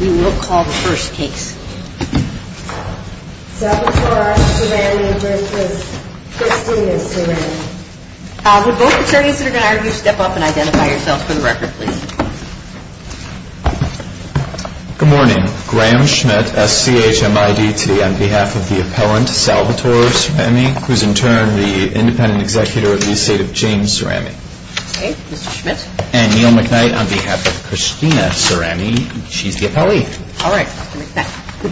We will call the first case. Salvatore Cerami v. Christina Cerami. Would both attorneys that are going to argue step up and identify yourselves for the record, please. Good morning. Graham Schmidt, SCHMID, today on behalf of the appellant Salvatore Cerami, who is in turn the independent Good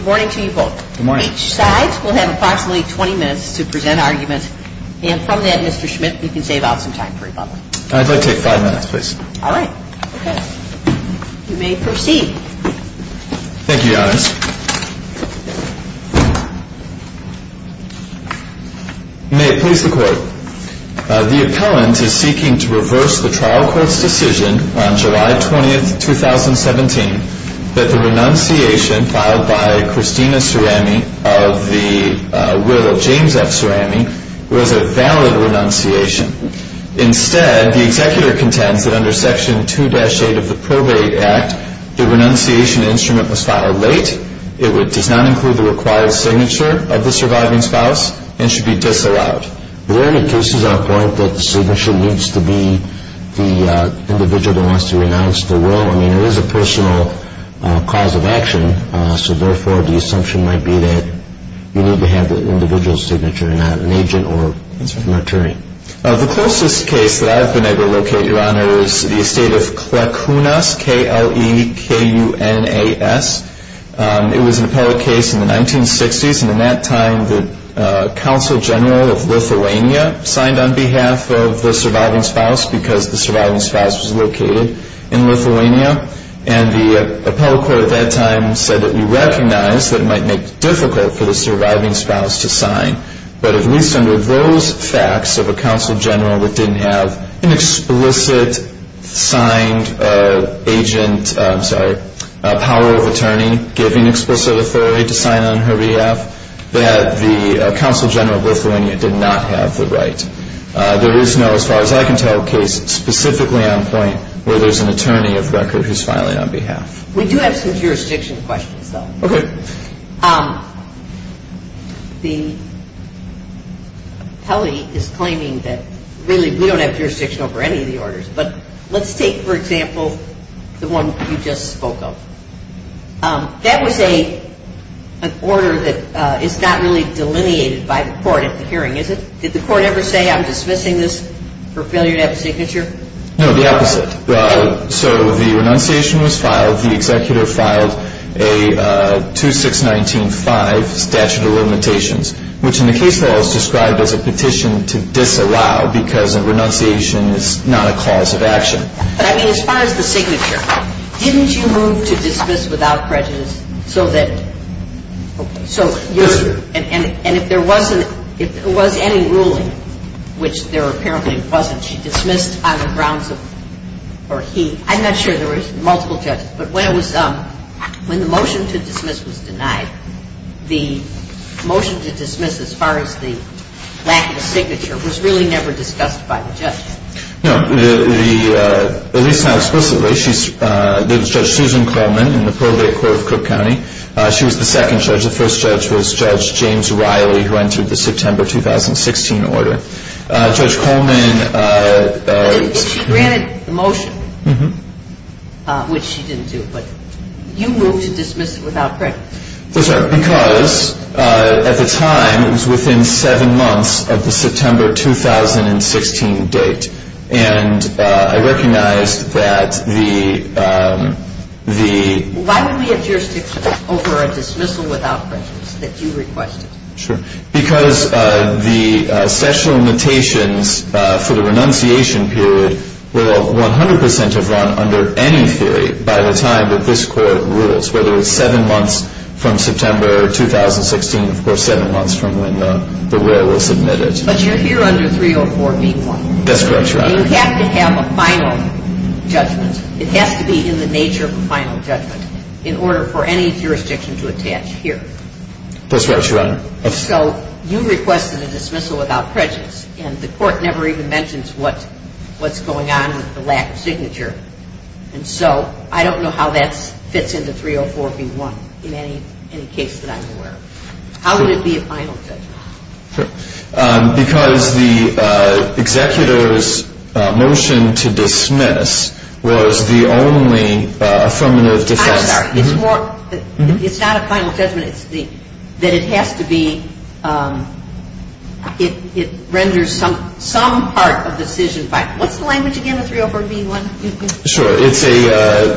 morning to you both. Each side will have approximately 20 minutes to present arguments, and from that, Mr. Schmidt, you can save out some time for rebuttal. I'd like to take five minutes, please. All right. You may proceed. Thank you, Your Honors. You may please the court. The appellant is seeking to reverse the trial court's decision on July 20, 2017, that the renunciation filed by Christina Cerami of the will of James F. Cerami was a valid renunciation. Instead, the executor contends that under Section 2-8 of the Probate Act, the renunciation instrument was filed late, it does not include the required signature of the surviving spouse, and should be disallowed. Is there any cases at this point that the signature needs to be the individual that wants to renounce the will? I mean, it is a personal cause of action, so therefore, the assumption might be that you need to have the individual's signature, not an agent or an attorney. The closest case that I've been able to locate, Your Honors, is the estate of Clarkunas, K-L-E-K-U-N-A-S. It was an appellate case in the 1960s, and in that time, the Counsel General of Lithuania signed on behalf of the surviving spouse because the surviving spouse was located in Lithuania, and the appellate court at that time said that we recognize that it might make it difficult for the surviving spouse to sign, but at least under those facts of a Counsel General that didn't have an explicit signed agent, I'm sorry, power of attorney giving explicit authority to sign on her behalf, that the Counsel General of Lithuania did not have the right. There is no, as far as I can tell, case specifically on point where there's an attorney of record who's filing on behalf. We do have some jurisdiction questions, though. Okay. Kelly is claiming that really we don't have jurisdiction over any of the orders, but let's take, for example, the one you just spoke of. That was an order that is not really delineated by the court at the hearing, is it? Did the court ever say, I'm dismissing this for failure to have a signature? No, the opposite. So the renunciation was filed. The executive filed a 2619-5 statute of limitations, which in the case law is described as a petition to disallow because a renunciation is not a cause of action. But, I mean, as far as the signature, didn't you move to dismiss without prejudice so that, okay. Yes, ma'am. And if there was any ruling, which there apparently wasn't, she dismissed on the grounds of, or he, I'm not sure there were multiple judges, but when it was, when the motion to dismiss was denied, the motion to dismiss as far as the lack of a signature was really never discussed by the judge. No. At least not explicitly. There was Judge Susan Coleman in the Pearl Bay Court of Cook County. She was the second judge. The first judge was Judge James Riley, who entered the September 2016 order. Judge Coleman. She granted the motion, which she didn't do, but you moved to dismiss without prejudice. Yes, ma'am, because at the time, it was within seven months of the September 2016 date. And I recognized that the... Sure. Because the statute of limitations for the renunciation period will 100 percent have run under any theory by the time that this court rules, whether it's seven months from September 2016 or seven months from when the rule was submitted. But you're here under 304b1. That's correct, Your Honor. You have to have a final judgment. It has to be in the nature of a final judgment in order for any jurisdiction to attach here. That's right, Your Honor. So you requested a dismissal without prejudice, and the court never even mentions what's going on with the lack of signature. And so I don't know how that fits into 304b1 in any case that I'm aware of. How would it be a final judgment? Because the executor's motion to dismiss was the only affirmative defense. I'm sorry. It's more... It's not a final judgment. It's the... That it has to be... It renders some part of the decision final. What's the language again of 304b1? Sure. It's a...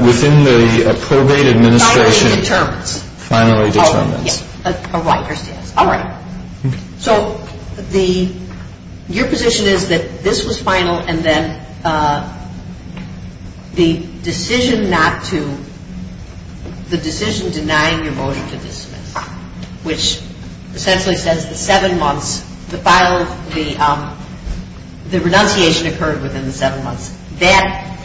Finally determines. Finally determines. Oh, yes. All right. So the... Your position is that this was final, and then the decision not to... The decision denying your motion to dismiss, which essentially says the seven months... The final... The renunciation occurred within the seven months. That,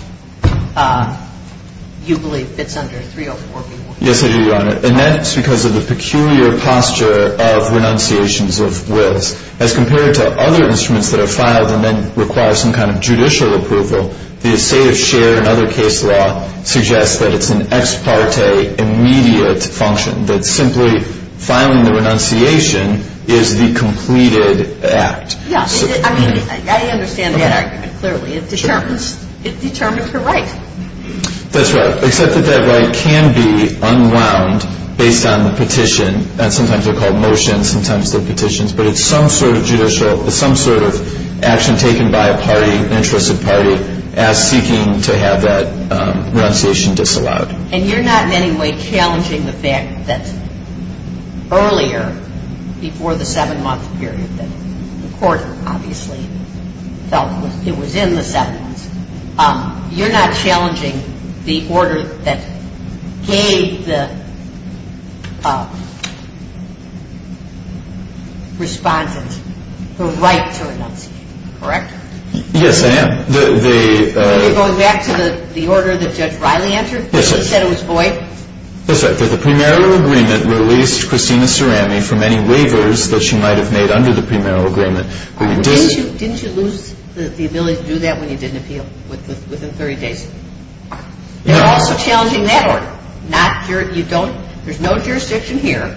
you believe, fits under 304b1? Yes, I do, Your Honor. And that's because of the peculiar posture of renunciations of wills. As compared to other instruments that are filed and then require some kind of judicial approval, the estate of share and other case law suggests that it's an ex parte immediate function, that simply filing the renunciation is the completed act. Yes. I mean, I understand that argument clearly. It determines... It determines your right. That's right. Except that that right can be unwound based on the petition. Sometimes they're called motions. Sometimes they're petitions. But it's some sort of judicial... It's some sort of action taken by a party, an interested party, as seeking to have that renunciation disallowed. And you're not in any way challenging the fact that earlier, before the seven-month period that the court obviously felt it was in the seven months, you're not challenging the order that gave the respondent her right to renunciation, correct? Yes, I am. The... Are you going back to the order that Judge Riley entered? Yes, I am. She said it was void? That's right. That the premarital agreement released Christina Cerami from any waivers that she might have made under the premarital agreement. Didn't you lose the ability to do that when you didn't appeal within 30 days? They're also challenging that order. There's no jurisdiction here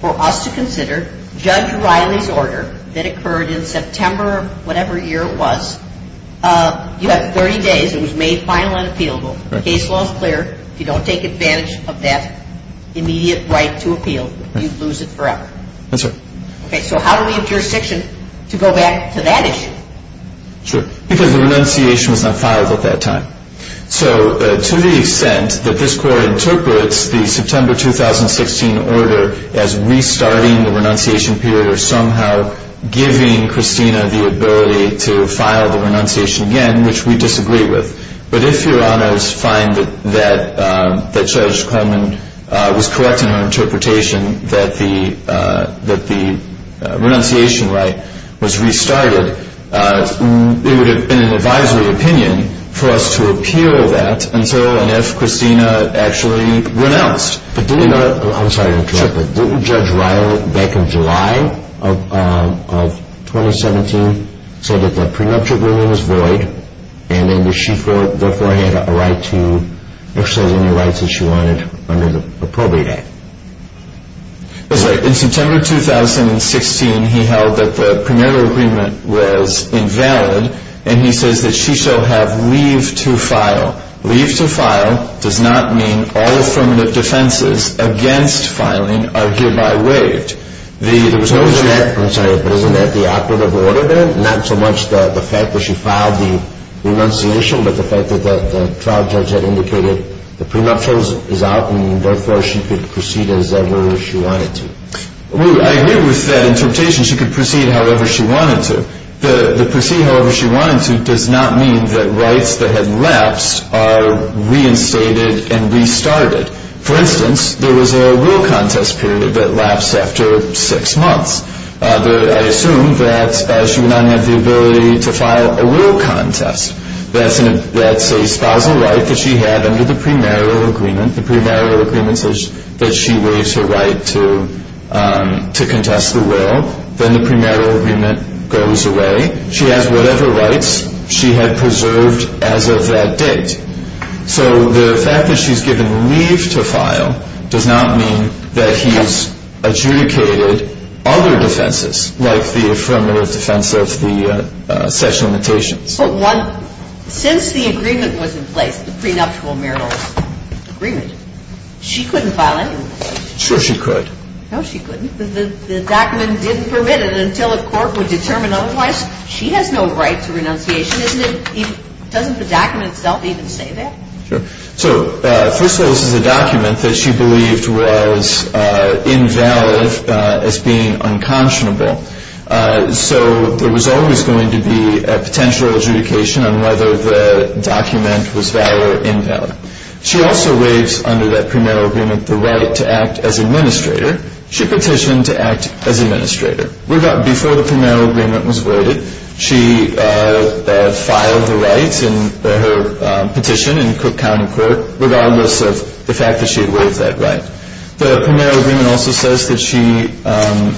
for us to consider Judge Riley's order that occurred in September of whatever year it was. You have 30 days. It was made final and appealable. The case law is clear. If you don't take advantage of that immediate right to appeal, you lose it forever. That's right. Okay, so how do we have jurisdiction to go back to that issue? Sure, because the renunciation was not filed at that time. So to the extent that this court interprets the September 2016 order as restarting the renunciation period or somehow giving Christina the ability to file the renunciation again, which we disagree with, but if Your Honors find that Judge Coleman was correct in her interpretation that the renunciation right was restarted, it would have been an advisory opinion for us to appeal that until and if Christina actually renounced. I'm sorry to interrupt, but didn't Judge Riley, back in July of 2017, say that the prenuptial agreement was void and that she therefore had a right to exercise any rights that she wanted under the probate act? That's right. In September 2016, he held that the prenuptial agreement was invalid, and he says that she shall have leave to file. Leave to file does not mean all affirmative defenses against filing are hereby waived. I'm sorry, but isn't that the operative order then? Not so much the fact that she filed the renunciation, but the fact that the trial judge had indicated the prenuptial is out and therefore she could proceed as ever she wanted to. Well, I agree with that interpretation. She could proceed however she wanted to. To proceed however she wanted to does not mean that rights that had lapsed are reinstated and restarted. For instance, there was a will contest period that lapsed after six months. I assume that she would not have the ability to file a will contest. That's a spousal right that she had under the premarital agreement. The premarital agreement says that she waives her right to contest the will. Then the premarital agreement goes away. She has whatever rights she had preserved as of that date. So the fact that she's given leave to file does not mean that he's adjudicated other defenses like the affirmative defense of the sexual limitations. But since the agreement was in place, the prenuptial marital agreement, she couldn't file any will. Sure she could. No, she couldn't. The document didn't permit it until a court would determine otherwise. She has no right to renunciation. Doesn't the document itself even say that? Sure. So first of all, this is a document that she believed was invalid as being unconscionable. So there was always going to be a potential adjudication on whether the document was valid or invalid. She also waives under that premarital agreement the right to act as administrator. She petitioned to act as administrator. Before the premarital agreement was waived, she filed the rights in her petition in Cook County Court regardless of the fact that she had waived that right. The premarital agreement also says that she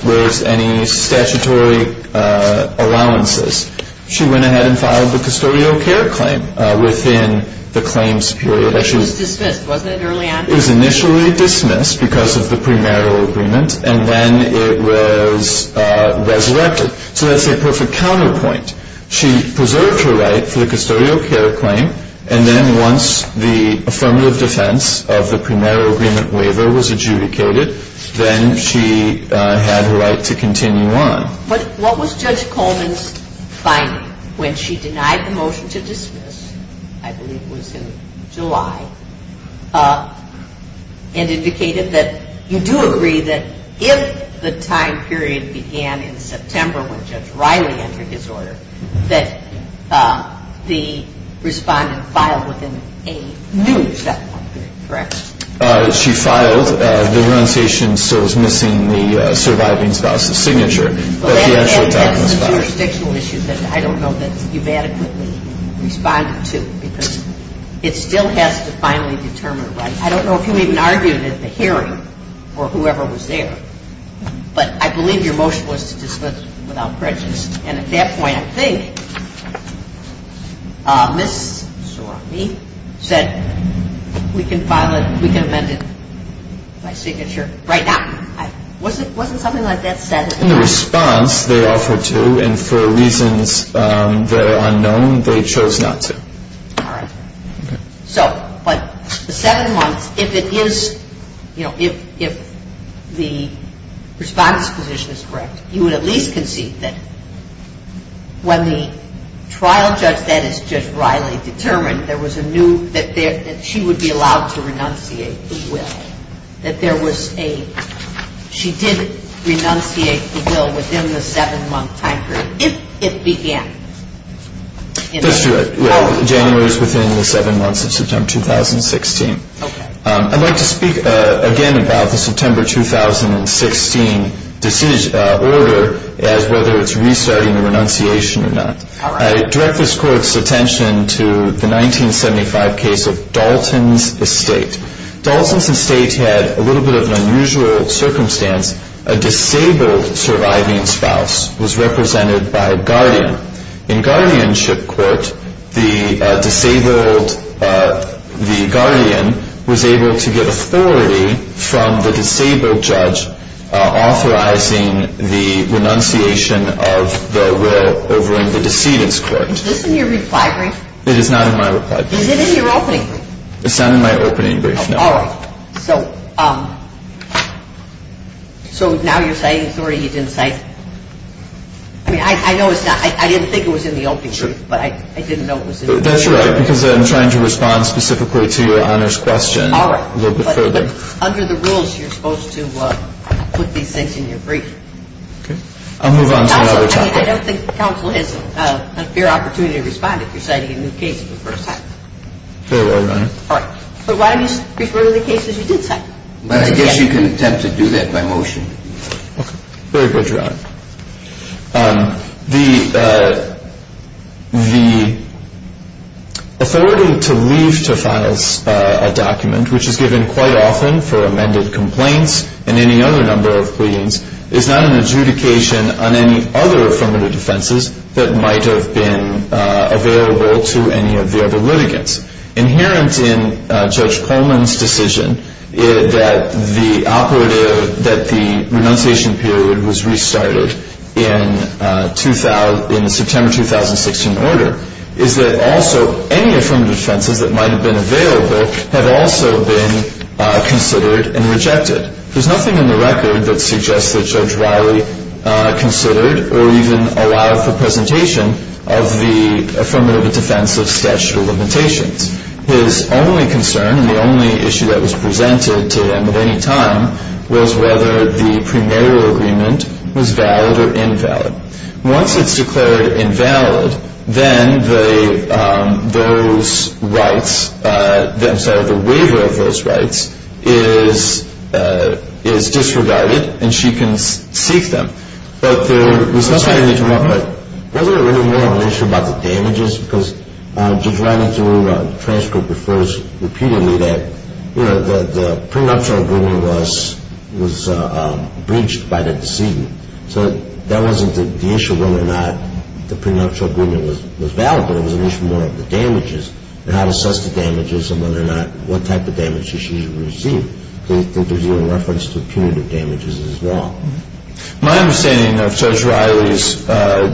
waives any statutory allowances. She went ahead and filed the custodial care claim within the claims period. It was dismissed, wasn't it, early on? It was initially dismissed because of the premarital agreement, and then it was resurrected. So that's a perfect counterpoint. She preserved her right for the custodial care claim, and then once the affirmative defense of the premarital agreement waiver was adjudicated, then she had her right to continue on. What was Judge Coleman's finding when she denied the motion to dismiss, I believe it was in July, and indicated that you do agree that if the time period began in September when Judge Riley entered his order, that the respondent filed within a new settlement period, correct? She filed. The renunciation still is missing the surviving spouse's signature, but the actual time was filed. That's a jurisdictional issue that I don't know that you've adequately responded to because it still has to finally determine rights. I don't know if you even argued it at the hearing or whoever was there, but I believe your motion was to dismiss without prejudice. And at that point, I think Ms. Soroffi said, we can file it, we can amend it, my signature, right now. Wasn't something like that said? In the response, they offered to, and for reasons that are unknown, they chose not to. All right. So, but the seven months, if it is, you know, if the response position is correct, you would at least concede that when the trial judge, that is Judge Riley, determined there was a new, that she would be allowed to renunciate the will, that there was a, she did renunciate the will within the seven-month time period, if it began. That's true. January is within the seven months of September 2016. Okay. I'd like to speak again about the September 2016 decision, order, as whether it's restarting the renunciation or not. All right. I direct this Court's attention to the 1975 case of Dalton's Estate. Dalton's Estate had a little bit of an unusual circumstance. A disabled surviving spouse was represented by a guardian. In guardianship court, the disabled, the guardian was able to get authority from the disabled judge authorizing the renunciation of the will over in the decedent's court. Is this in your reply brief? It is not in my reply brief. Is it in your opening brief? It's not in my opening brief, no. All right. So now you're citing authority, you didn't cite, I mean, I know it's not, I didn't think it was in the opening brief, but I didn't know it was in the brief. That's right, because I'm trying to respond specifically to Your Honor's question a little bit further. All right. But under the rules, you're supposed to put these things in your brief. Okay. I'll move on to another topic. I don't think counsel has a fair opportunity to respond if you're citing a new case for the first time. Very well, Your Honor. All right. But why don't you refer to the cases you did cite? I guess you can attempt to do that by motion. Okay. Very good, Your Honor. The authority to leave to file a document, which is given quite often for amended complaints and any other number of pleadings, is not an adjudication on any other affirmative defenses that might have been available to any of the other litigants. Inherent in Judge Coleman's decision that the renunciation period was restarted in the September 2016 order is that also any affirmative defenses that might have been available have also been considered and rejected. There's nothing in the record that suggests that Judge Riley considered or even allowed for presentation of the affirmative defense of statutory limitations. His only concern, and the only issue that was presented to him at any time, was whether the premarital agreement was valid or invalid. Once it's declared invalid, then those rights, I'm sorry, the waiver of those rights is disregarded and she can seek them. But there was no sign of interruption. Was there really more of an issue about the damages? Because Judge Riley, through transcript, refers repeatedly that the premarital agreement was breached by the decedent. So that wasn't the issue of whether or not the premarital agreement was valid, but it was an issue more of the damages and how to assess the damages and whether or not what type of damages she should receive. I think there's even reference to punitive damages as well. My understanding of Judge Riley's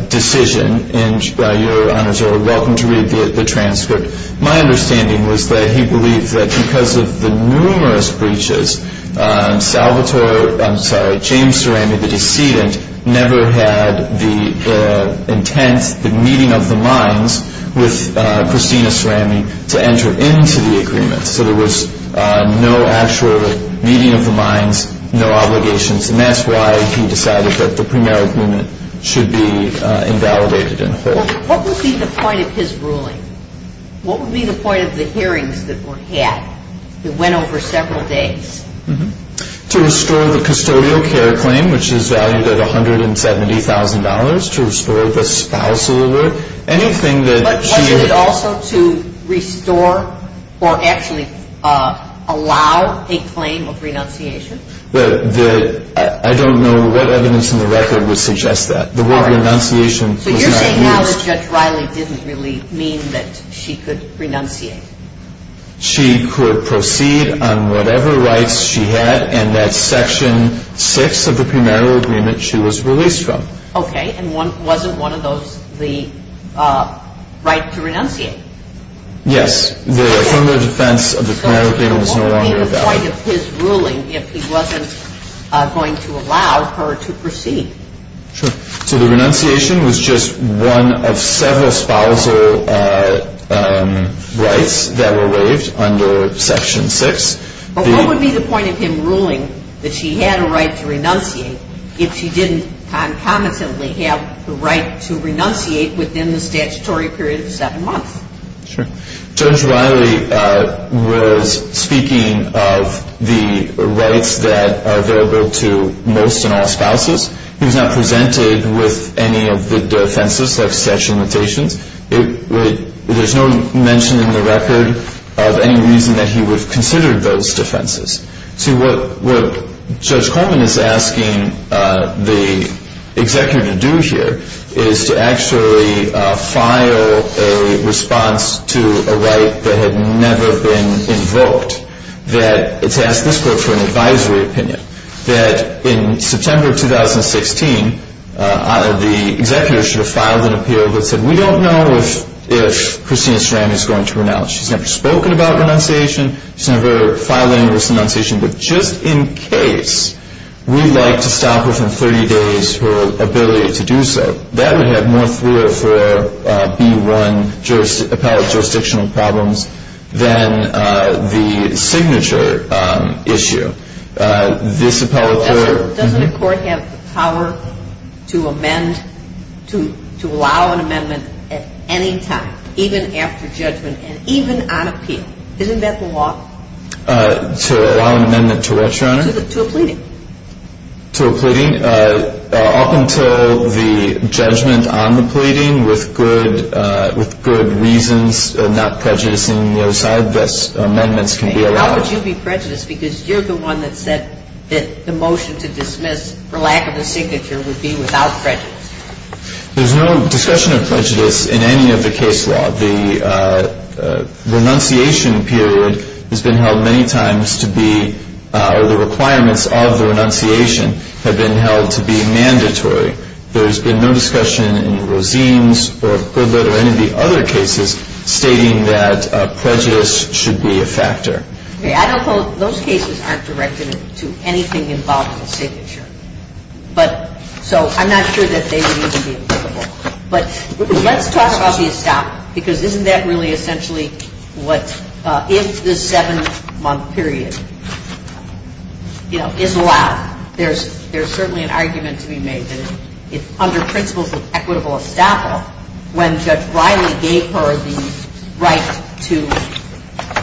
decision, and Your Honors are welcome to read the transcript, my understanding was that he believed that because of the numerous breaches, Salvatore, I'm sorry, James Cerami, the decedent, never had the intent, the meeting of the minds with Christina Cerami to enter into the agreement. So there was no actual meeting of the minds, no obligations, and that's why he decided that the premarital agreement should be invalidated and hold. What would be the point of his ruling? What would be the point of the hearings that were had? It went over several days. To restore the custodial care claim, which is valued at $170,000. To restore the spousal award. But wasn't it also to restore or actually allow a claim of renunciation? I don't know what evidence in the record would suggest that. The word renunciation was not used. So you're saying now that Judge Riley didn't really mean that she could renunciate. She could proceed on whatever rights she had and that's section six of the premarital agreement she was released from. Okay. And wasn't one of those the right to renunciate? Yes. From the defense of the premarital agreement, it was no longer valid. So what would be the point of his ruling if he wasn't going to allow her to proceed? So the renunciation was just one of several spousal rights that were waived under section six. What would be the point of him ruling that she had a right to renunciate if she didn't concomitantly have the right to renunciate within the statutory period of seven months? Sure. Judge Riley was speaking of the rights that are available to most and all spouses. He was not presented with any of the defenses of such limitations. There's no mention in the record of any reason that he would have considered those defenses. See, what Judge Coleman is asking the executor to do here is to actually file a response to a right that had never been invoked, that it's asked this court for an advisory opinion, that in September of 2016 the executor should have filed an appeal that said, we don't know if Christina Strand is going to renounce. She's never spoken about renunciation. She's never filed an inverse renunciation. But just in case we'd like to stop her from 30 days her ability to do so, that would have more 304B1 appellate jurisdictional problems than the signature issue. This appellate court — Doesn't a court have the power to amend, to allow an amendment at any time, even after judgment and even on appeal? Isn't that the law? To allow an amendment to what, Your Honor? To a pleading. To a pleading. Up until the judgment on the pleading with good reasons, not prejudicing the other side, those amendments can be allowed. And how would you be prejudiced? Because you're the one that said that the motion to dismiss for lack of a signature would be without prejudice. There's no discussion of prejudice in any of the case law. The renunciation period has been held many times to be — or the requirements of the renunciation have been held to be mandatory. There's been no discussion in Rosene's or Goodlett or any of the other cases stating that prejudice should be a factor. Okay. I don't hold — those cases aren't directed to anything involved in the signature. But — so I'm not sure that they would even be applicable. But let's talk about the estoppel. Because isn't that really essentially what — if the seven-month period, you know, is allowed, there's certainly an argument to be made that under principles of equitable estoppel, when Judge Riley gave her the right to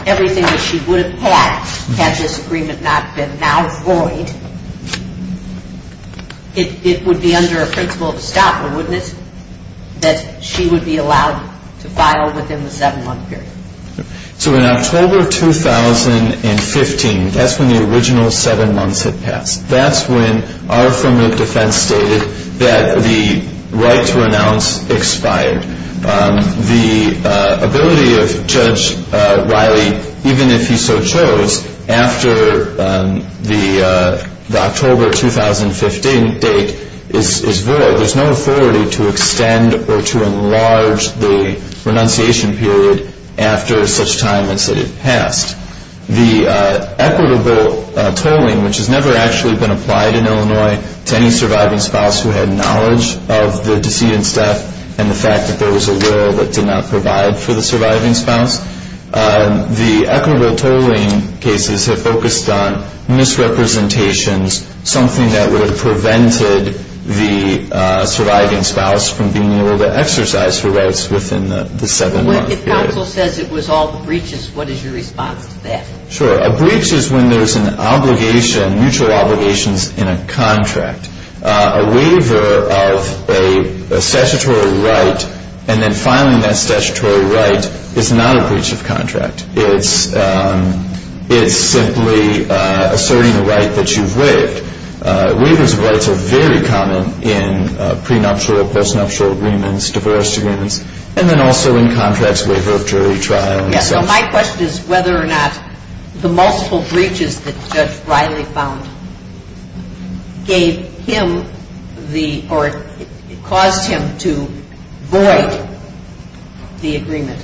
everything that she would have had, had this agreement not been now void, it would be under a principle of estoppel, wouldn't it, that she would be allowed to file within the seven-month period? So in October 2015, that's when the original seven months had passed. That's when our affirmative defense stated that the right to renounce expired. The ability of Judge Riley, even if he so chose, after the October 2015 date is void. There's no authority to extend or to enlarge the renunciation period after such time as it had passed. The equitable tolling, which has never actually been applied in Illinois to any surviving spouse who had knowledge of the decedent's death and the fact that there was a will that did not provide for the surviving spouse. The equitable tolling cases have focused on misrepresentations, something that would have prevented the surviving spouse from being able to exercise her rights within the seven-month period. If counsel says it was all breaches, what is your response to that? Sure. A breach is when there's an obligation, mutual obligations in a contract. A waiver of a statutory right and then filing that statutory right is not a breach of contract. It's simply asserting the right that you've waived. Waivers of rights are very common in prenuptial, postnuptial agreements, divorce agreements, and then also in contracts, waiver of jury trial and such. So my question is whether or not the multiple breaches that Judge Riley found gave him the or caused him to void the agreement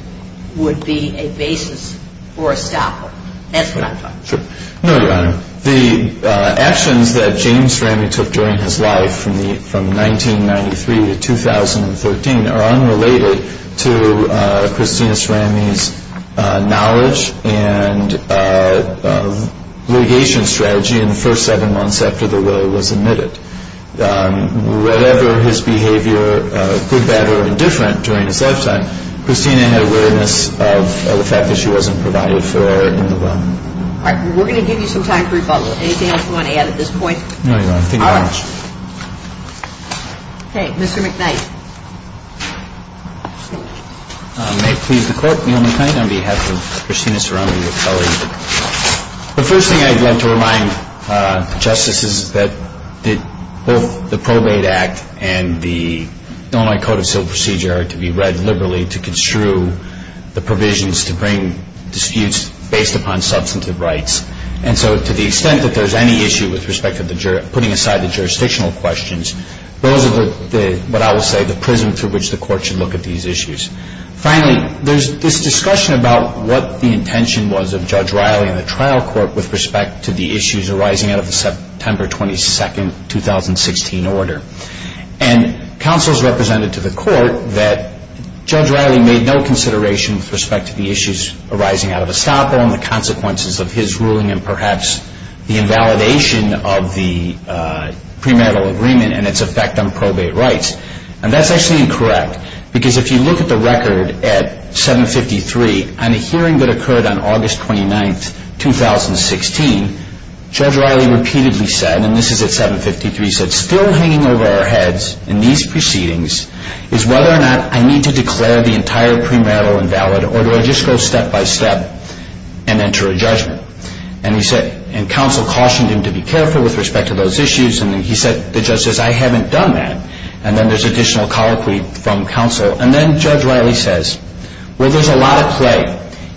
would be a basis for a stop. That's what I'm talking about. No, Your Honor. The actions that James Ramey took during his life from 1993 to 2013 are unrelated to Christina Ramey's knowledge and litigation strategy in the first seven months after the will was admitted. Whatever his behavior, good, bad, or indifferent during his lifetime, Christina had awareness of the fact that she wasn't provided for in the will. All right. We're going to give you some time for rebuttal. Anything else you want to add at this point? No, Your Honor. Thank you very much. All right. Okay. Mr. McKnight. May it please the Court. Neal McKnight on behalf of Christina Serrano, your colleague. The first thing I'd like to remind the Justices is that both the Probate Act and the Illinois Code of Civil Procedure are to be read liberally to construe the provisions to bring disputes based upon substantive rights. And so to the extent that there's any issue with respect to putting aside the jurisdictional questions, those are what I would say the prism through which the Court should look at these issues. Finally, there's this discussion about what the intention was of Judge Riley and the trial court with respect to the issues arising out of the September 22, 2016, order. And counsel has represented to the Court that Judge Riley made no consideration with respect to the issues arising out of Estoppo and the consequences of his ruling and perhaps the invalidation of the premarital agreement and its effect on probate rights. And that's actually incorrect because if you look at the record at 753, on a hearing that occurred on August 29, 2016, Judge Riley repeatedly said, and this is at 753, said, still hanging over our heads in these proceedings is whether or not I need to declare the entire premarital invalid or do I just go step by step and enter a judgment. And counsel cautioned him to be careful with respect to those issues. And he said, the judge says, I haven't done that. And then there's additional colloquy from counsel. And then Judge Riley says, well, there's a lot at play,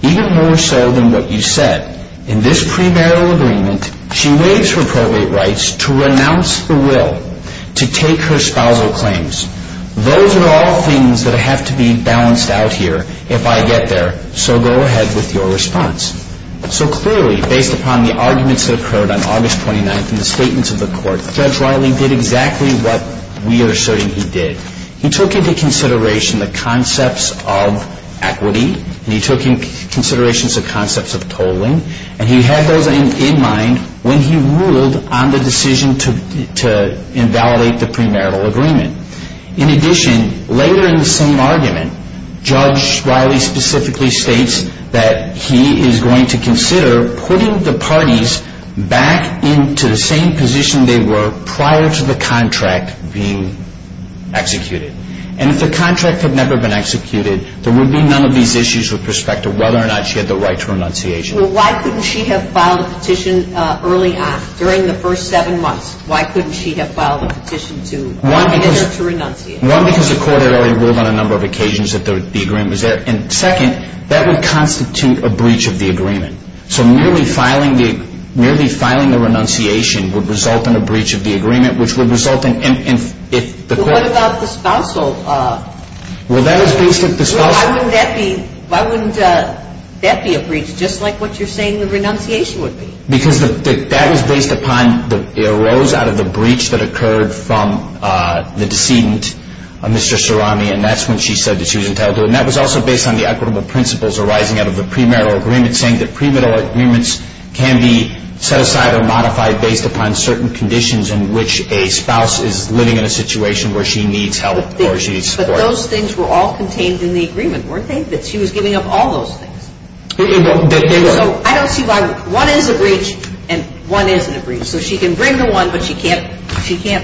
even more so than what you said. In this premarital agreement, she waives her probate rights to renounce the will to take her spousal claims. Those are all things that have to be balanced out here if I get there. So go ahead with your response. So clearly, based upon the arguments that occurred on August 29 and the statements of the court, Judge Riley did exactly what we are asserting he did. He took into consideration the concepts of equity. He took into consideration the concepts of tolling. And he had those in mind when he ruled on the decision to invalidate the premarital agreement. In addition, later in the same argument, Judge Riley specifically states that he is going to consider putting the parties back into the same position they were prior to the contract being executed. And if the contract had never been executed, there would be none of these issues with respect to whether or not she had the right to renunciation. Well, why couldn't she have filed a petition early on, during the first seven months? Why couldn't she have filed a petition to admit her to renunciation? One, because the court had already ruled on a number of occasions that the agreement was there. And second, that would constitute a breach of the agreement. So merely filing the renunciation would result in a breach of the agreement, which would result in if the court… Well, what about the spousal? Well, that is basically the spousal. Why wouldn't that be a breach, just like what you're saying the renunciation would be? Because that was based upon – it arose out of the breach that occurred from the decedent, Mr. Surami, and that's when she said that she was entitled to it. And that was also based on the equitable principles arising out of the premarital agreement, saying that premarital agreements can be set aside or modified based upon certain conditions in which a spouse is living in a situation where she needs help or she needs support. But those things were all contained in the agreement, weren't they, that she was giving up all those things? They were. So I don't see why – one is a breach and one isn't a breach. So she can bring the one, but she can't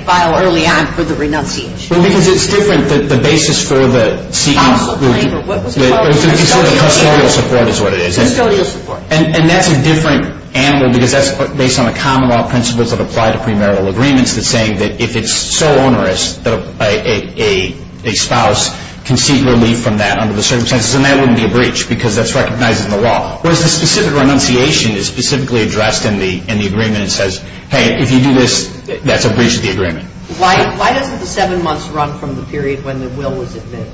file early on for the renunciation. Well, because it's different. The basis for the CE… Spousal claim, or what was it called? Custodial support is what it is. Custodial support. And that's a different animal because that's based on the common law principles that apply to premarital agreements that's saying that if it's so onerous that a spouse can seek relief from that under the circumstances, then that wouldn't be a breach because that's recognized in the law. Whereas the specific renunciation is specifically addressed in the agreement and says, hey, if you do this, that's a breach of the agreement. Why doesn't the seven months run from the period when the will was admitted?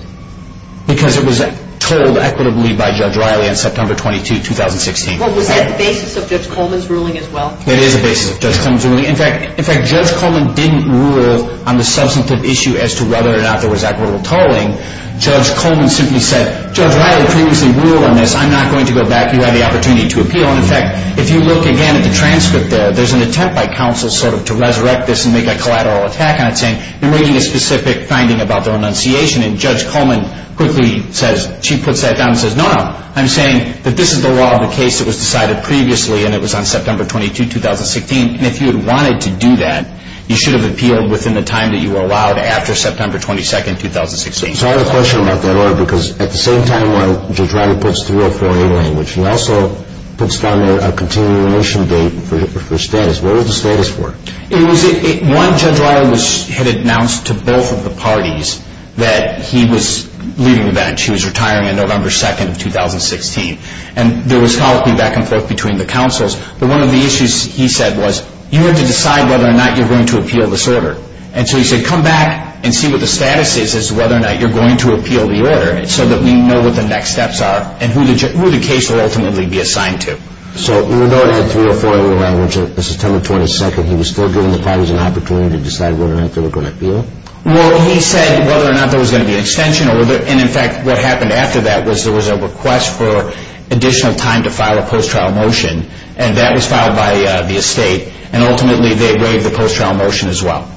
Because it was told equitably by Judge Riley on September 22, 2016. Well, was that the basis of Judge Coleman's ruling as well? It is the basis of Judge Coleman's ruling. In fact, Judge Coleman didn't rule on the substantive issue as to whether or not there was equitable tolling. Judge Coleman simply said, Judge Riley previously ruled on this. I'm not going to go back. You have the opportunity to appeal. And, in fact, if you look again at the transcript there, there's an attempt by counsel sort of to resurrect this and make a collateral attack on it saying, you're making a specific finding about the renunciation. And Judge Coleman quickly says, she puts that down and says, no, no. I'm saying that this is the law of the case that was decided previously, and it was on September 22, 2016. And if you had wanted to do that, you should have appealed within the time that you were allowed after September 22, 2016. So I have a question about that, Laura, because at the same time when Judge Riley puts 304A language, he also puts down a continuation date for status. What was the status for? One, Judge Riley had announced to both of the parties that he was leaving the bench. He was retiring on November 2, 2016. And there was follow-up feedback and forth between the counsels. But one of the issues he said was, you have to decide whether or not you're going to appeal this order. And so he said, come back and see what the status is as to whether or not you're going to appeal the order so that we know what the next steps are and who the case will ultimately be assigned to. So even though it had 304A language on September 22, he was still giving the parties an opportunity to decide whether or not they were going to appeal? Well, he said whether or not there was going to be an extension, and, in fact, what happened after that was there was a request for additional time to file a post-trial motion. And that was filed by the estate. And, ultimately, they waived the post-trial motion as well.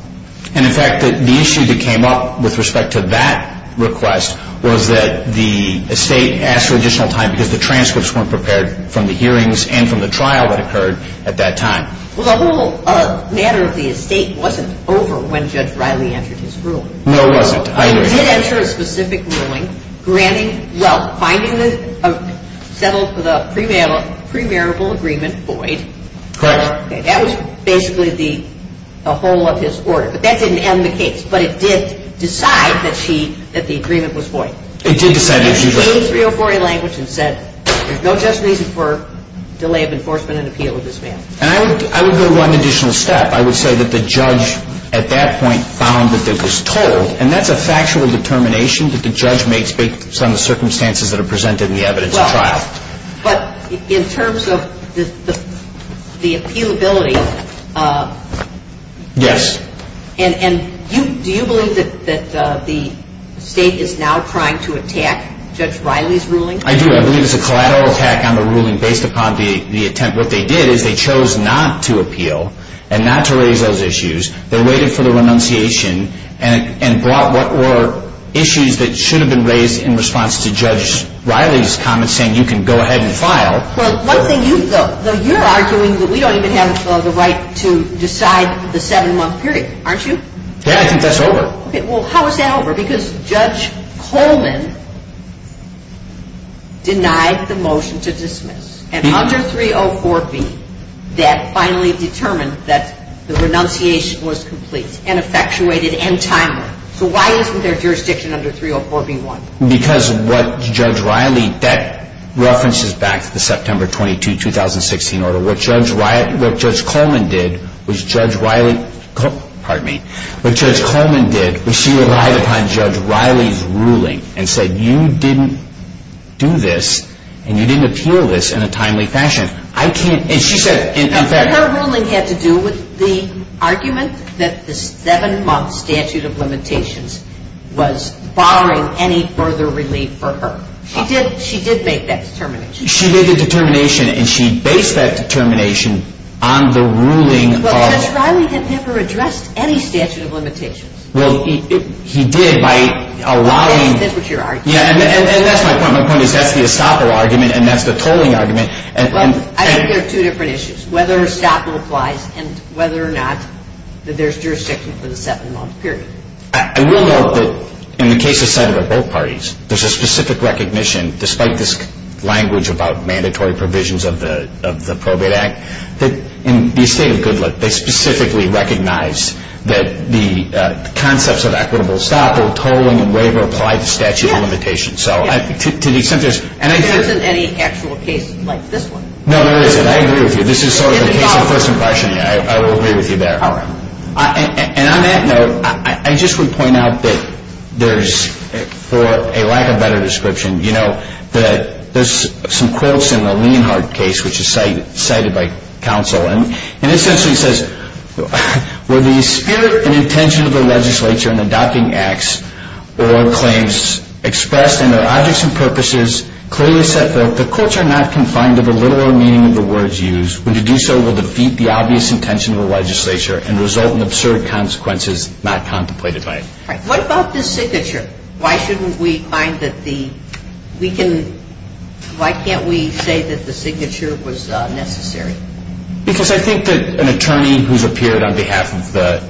And, in fact, the issue that came up with respect to that request was that the estate asked for additional time because the transcripts weren't prepared from the hearings and from the trial that occurred at that time. Well, the whole matter of the estate wasn't over when Judge Riley entered his ruling. No, it wasn't. He did enter a specific ruling granting – well, finding the – settled the premarital agreement void. Correct. That was basically the whole of his order. But that didn't end the case. But it did decide that she – that the agreement was void. It did decide that she was – She used 304A language and said there's no justification for delay of enforcement and appeal of this man. And I would go one additional step. I would say that the judge, at that point, found that it was told. And that's a factual determination that the judge makes based on the circumstances that are presented in the evidence of trial. Well, but in terms of the appealability – Yes. And do you believe that the state is now trying to attack Judge Riley's ruling? I do. I believe it's a collateral attack on the ruling based upon the attempt. And what they did is they chose not to appeal and not to raise those issues. They waited for the renunciation and brought what were issues that should have been raised in response to Judge Riley's comments saying you can go ahead and file. Well, one thing you – though you're arguing that we don't even have the right to decide the seven-month period, aren't you? Yeah. I think that's over. Okay. Well, how is that over? Because Judge Coleman denied the motion to dismiss. And under 304B, that finally determined that the renunciation was complete and effectuated and timely. So why isn't there jurisdiction under 304B-1? Because what Judge Riley – that references back to the September 22, 2016, order. What Judge Coleman did was Judge Riley – pardon me. What Judge Coleman did was she relied upon Judge Riley's ruling and said you didn't do this and you didn't appeal this in a timely fashion. I can't – and she said – And her ruling had to do with the argument that the seven-month statute of limitations was barring any further relief for her. She did make that determination. She made the determination and she based that determination on the ruling of – Well, Judge Riley never addressed any statute of limitations. Well, he did by allowing – That's what you're arguing. Yeah, and that's my point. My point is that's the estoppel argument and that's the tolling argument. Well, I think there are two different issues, whether estoppel applies and whether or not there's jurisdiction for the seven-month period. I will note that in the case of Senate of both parties, there's a specific recognition, despite this language about mandatory provisions of the probate act, that in the estate of Goodlatte, they specifically recognize that the concepts of equitable estoppel, tolling, and waiver apply to statute of limitations. So to the extent there's – And there isn't any actual case like this one. No, there isn't. I agree with you. This is sort of a case of first impression. I will agree with you there. All right. And on that note, I just would point out that there's, for a lack of a better description, you know, that there's some quotes in the Leonhardt case, which is cited by counsel, and it essentially says, Or claims expressed in their objects and purposes clearly set forth that courts are not confined to the literal meaning of the words used. When you do so, you will defeat the obvious intention of the legislature and result in absurd consequences not contemplated by it. All right. What about this signature? Why shouldn't we find that the – we can – why can't we say that the signature was necessary? Because I think that an attorney who's appeared on behalf of the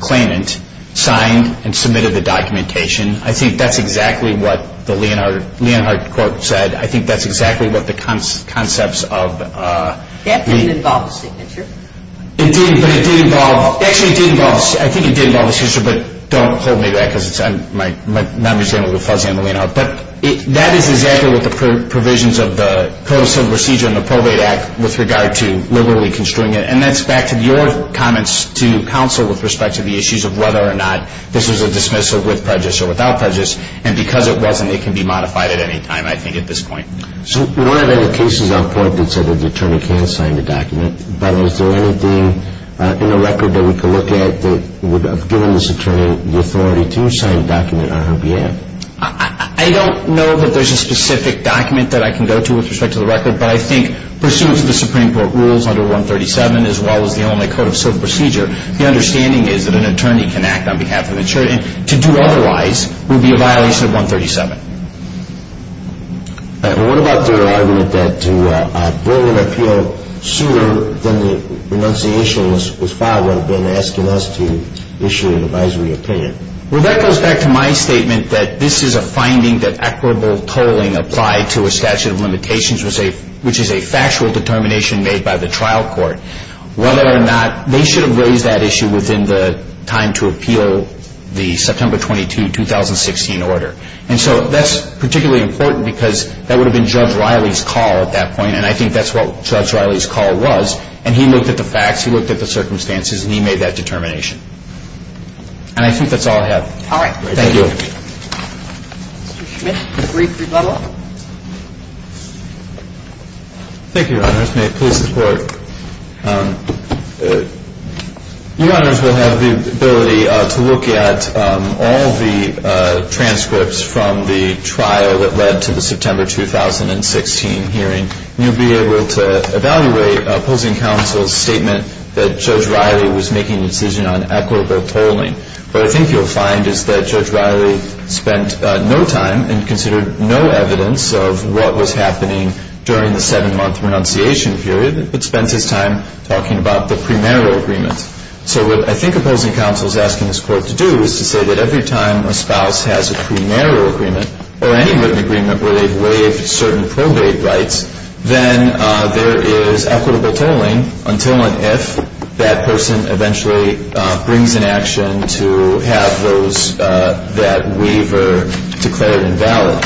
claimant signed and submitted the documentation. I think that's exactly what the Leonhardt court said. I think that's exactly what the concepts of the – That didn't involve a signature. It didn't, but it did involve – actually, it did involve – I think it did involve a signature, but don't hold me to that because I'm not understanding a little fuzzy on the Leonhardt. But that is exactly what the provisions of the Provisional Procedure and the Probate Act with regard to literally construing it. And that's back to your comments to counsel with respect to the issues of whether or not this was a dismissal with prejudice or without prejudice. And because it wasn't, it can be modified at any time, I think, at this point. So one of the cases on point that said that the attorney can sign the document, but is there anything in the record that we can look at that would have given this attorney the authority to sign a document on her behalf? I don't know that there's a specific document that I can go to with respect to the record, but I think pursuant to the Supreme Court rules under 137 as well as the Illinois Code of Civil Procedure, the understanding is that an attorney can act on behalf of an attorney. To do otherwise would be a violation of 137. What about the argument that to bring an appeal sooner than the renunciation was filed would have been asking us to issue an advisory opinion? Well, that goes back to my statement that this is a finding that equitable tolling applied to a statute of limitations, which is a factual determination made by the trial court. Whether or not they should have raised that issue within the time to appeal the September 22, 2016 order. And so that's particularly important because that would have been Judge Riley's call at that point, and I think that's what Judge Riley's call was. And he looked at the facts, he looked at the circumstances, and he made that determination. And I think that's all I have. All right. Thank you. Thank you, Your Honors. May it please the Court. You, Your Honors, will have the ability to look at all the transcripts from the trial that led to the September 2016 hearing. And you'll be able to evaluate opposing counsel's statement that Judge Riley was making a decision on equitable tolling. What I think you'll find is that Judge Riley spent no time and considered no evidence of what was happening during the seven-month renunciation period, but spent his time talking about the premarital agreement. So what I think opposing counsel is asking this Court to do is to say that every time a spouse has a premarital agreement or any written agreement where they've waived certain probate rights, then there is equitable tolling until and if that person eventually brings in action to have that waiver declared invalid.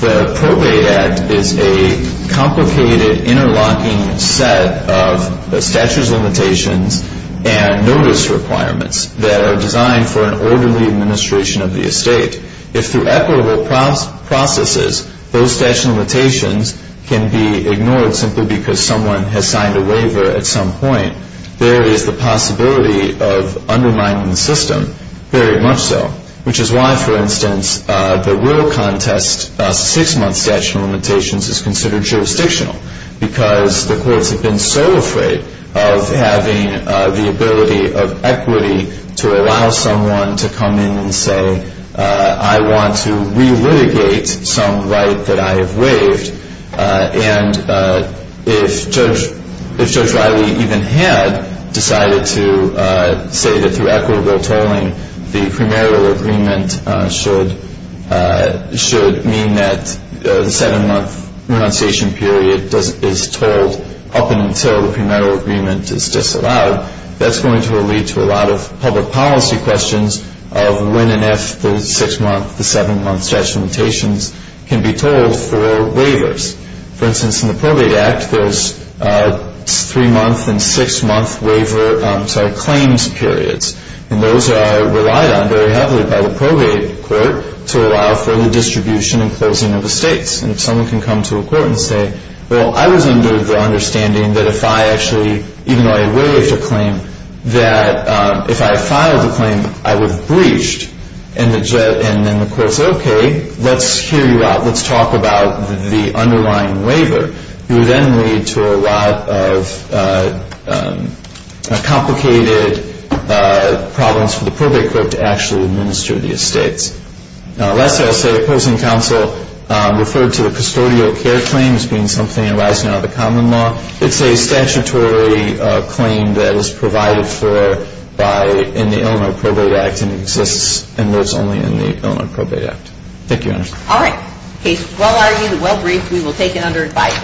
The Probate Act is a complicated, interlocking set of statutes, limitations, and notice requirements that are designed for an orderly administration of the estate. If through equitable processes, those statute of limitations can be ignored simply because someone has signed a waiver at some point, there is the possibility of undermining the system, very much so. Which is why, for instance, the rural contest six-month statute of limitations is considered jurisdictional because the courts have been so afraid of having the ability of equity to allow someone to come in and say, I want to re-litigate some right that I have waived. And if Judge Riley even had decided to say that through equitable tolling, the premarital agreement should mean that the seven-month renunciation period is tolled up until the premarital agreement is disallowed, that's going to lead to a lot of public policy questions of when and if the six-month, the seven-month statute of limitations can be tolled for waivers. For instance, in the Probate Act, there's three-month and six-month claims periods. And those are relied on very heavily by the probate court to allow for the distribution and closing of estates. And if someone can come to a court and say, well, I was under the understanding that if I actually, even though I waived a claim, that if I filed a claim, I was breached. And then the court said, okay, let's hear you out. Let's talk about the underlying waiver. It would then lead to a lot of complicated problems for the probate court to actually administer the estates. Lastly, I'll say opposing counsel referred to the custodial care claim as being something arising out of the common law. It's a statutory claim that is provided for in the Illinois Probate Act and exists and lives only in the Illinois Probate Act. Thank you, Your Honor. All right. Case is well argued and well briefed. We will take it under advice.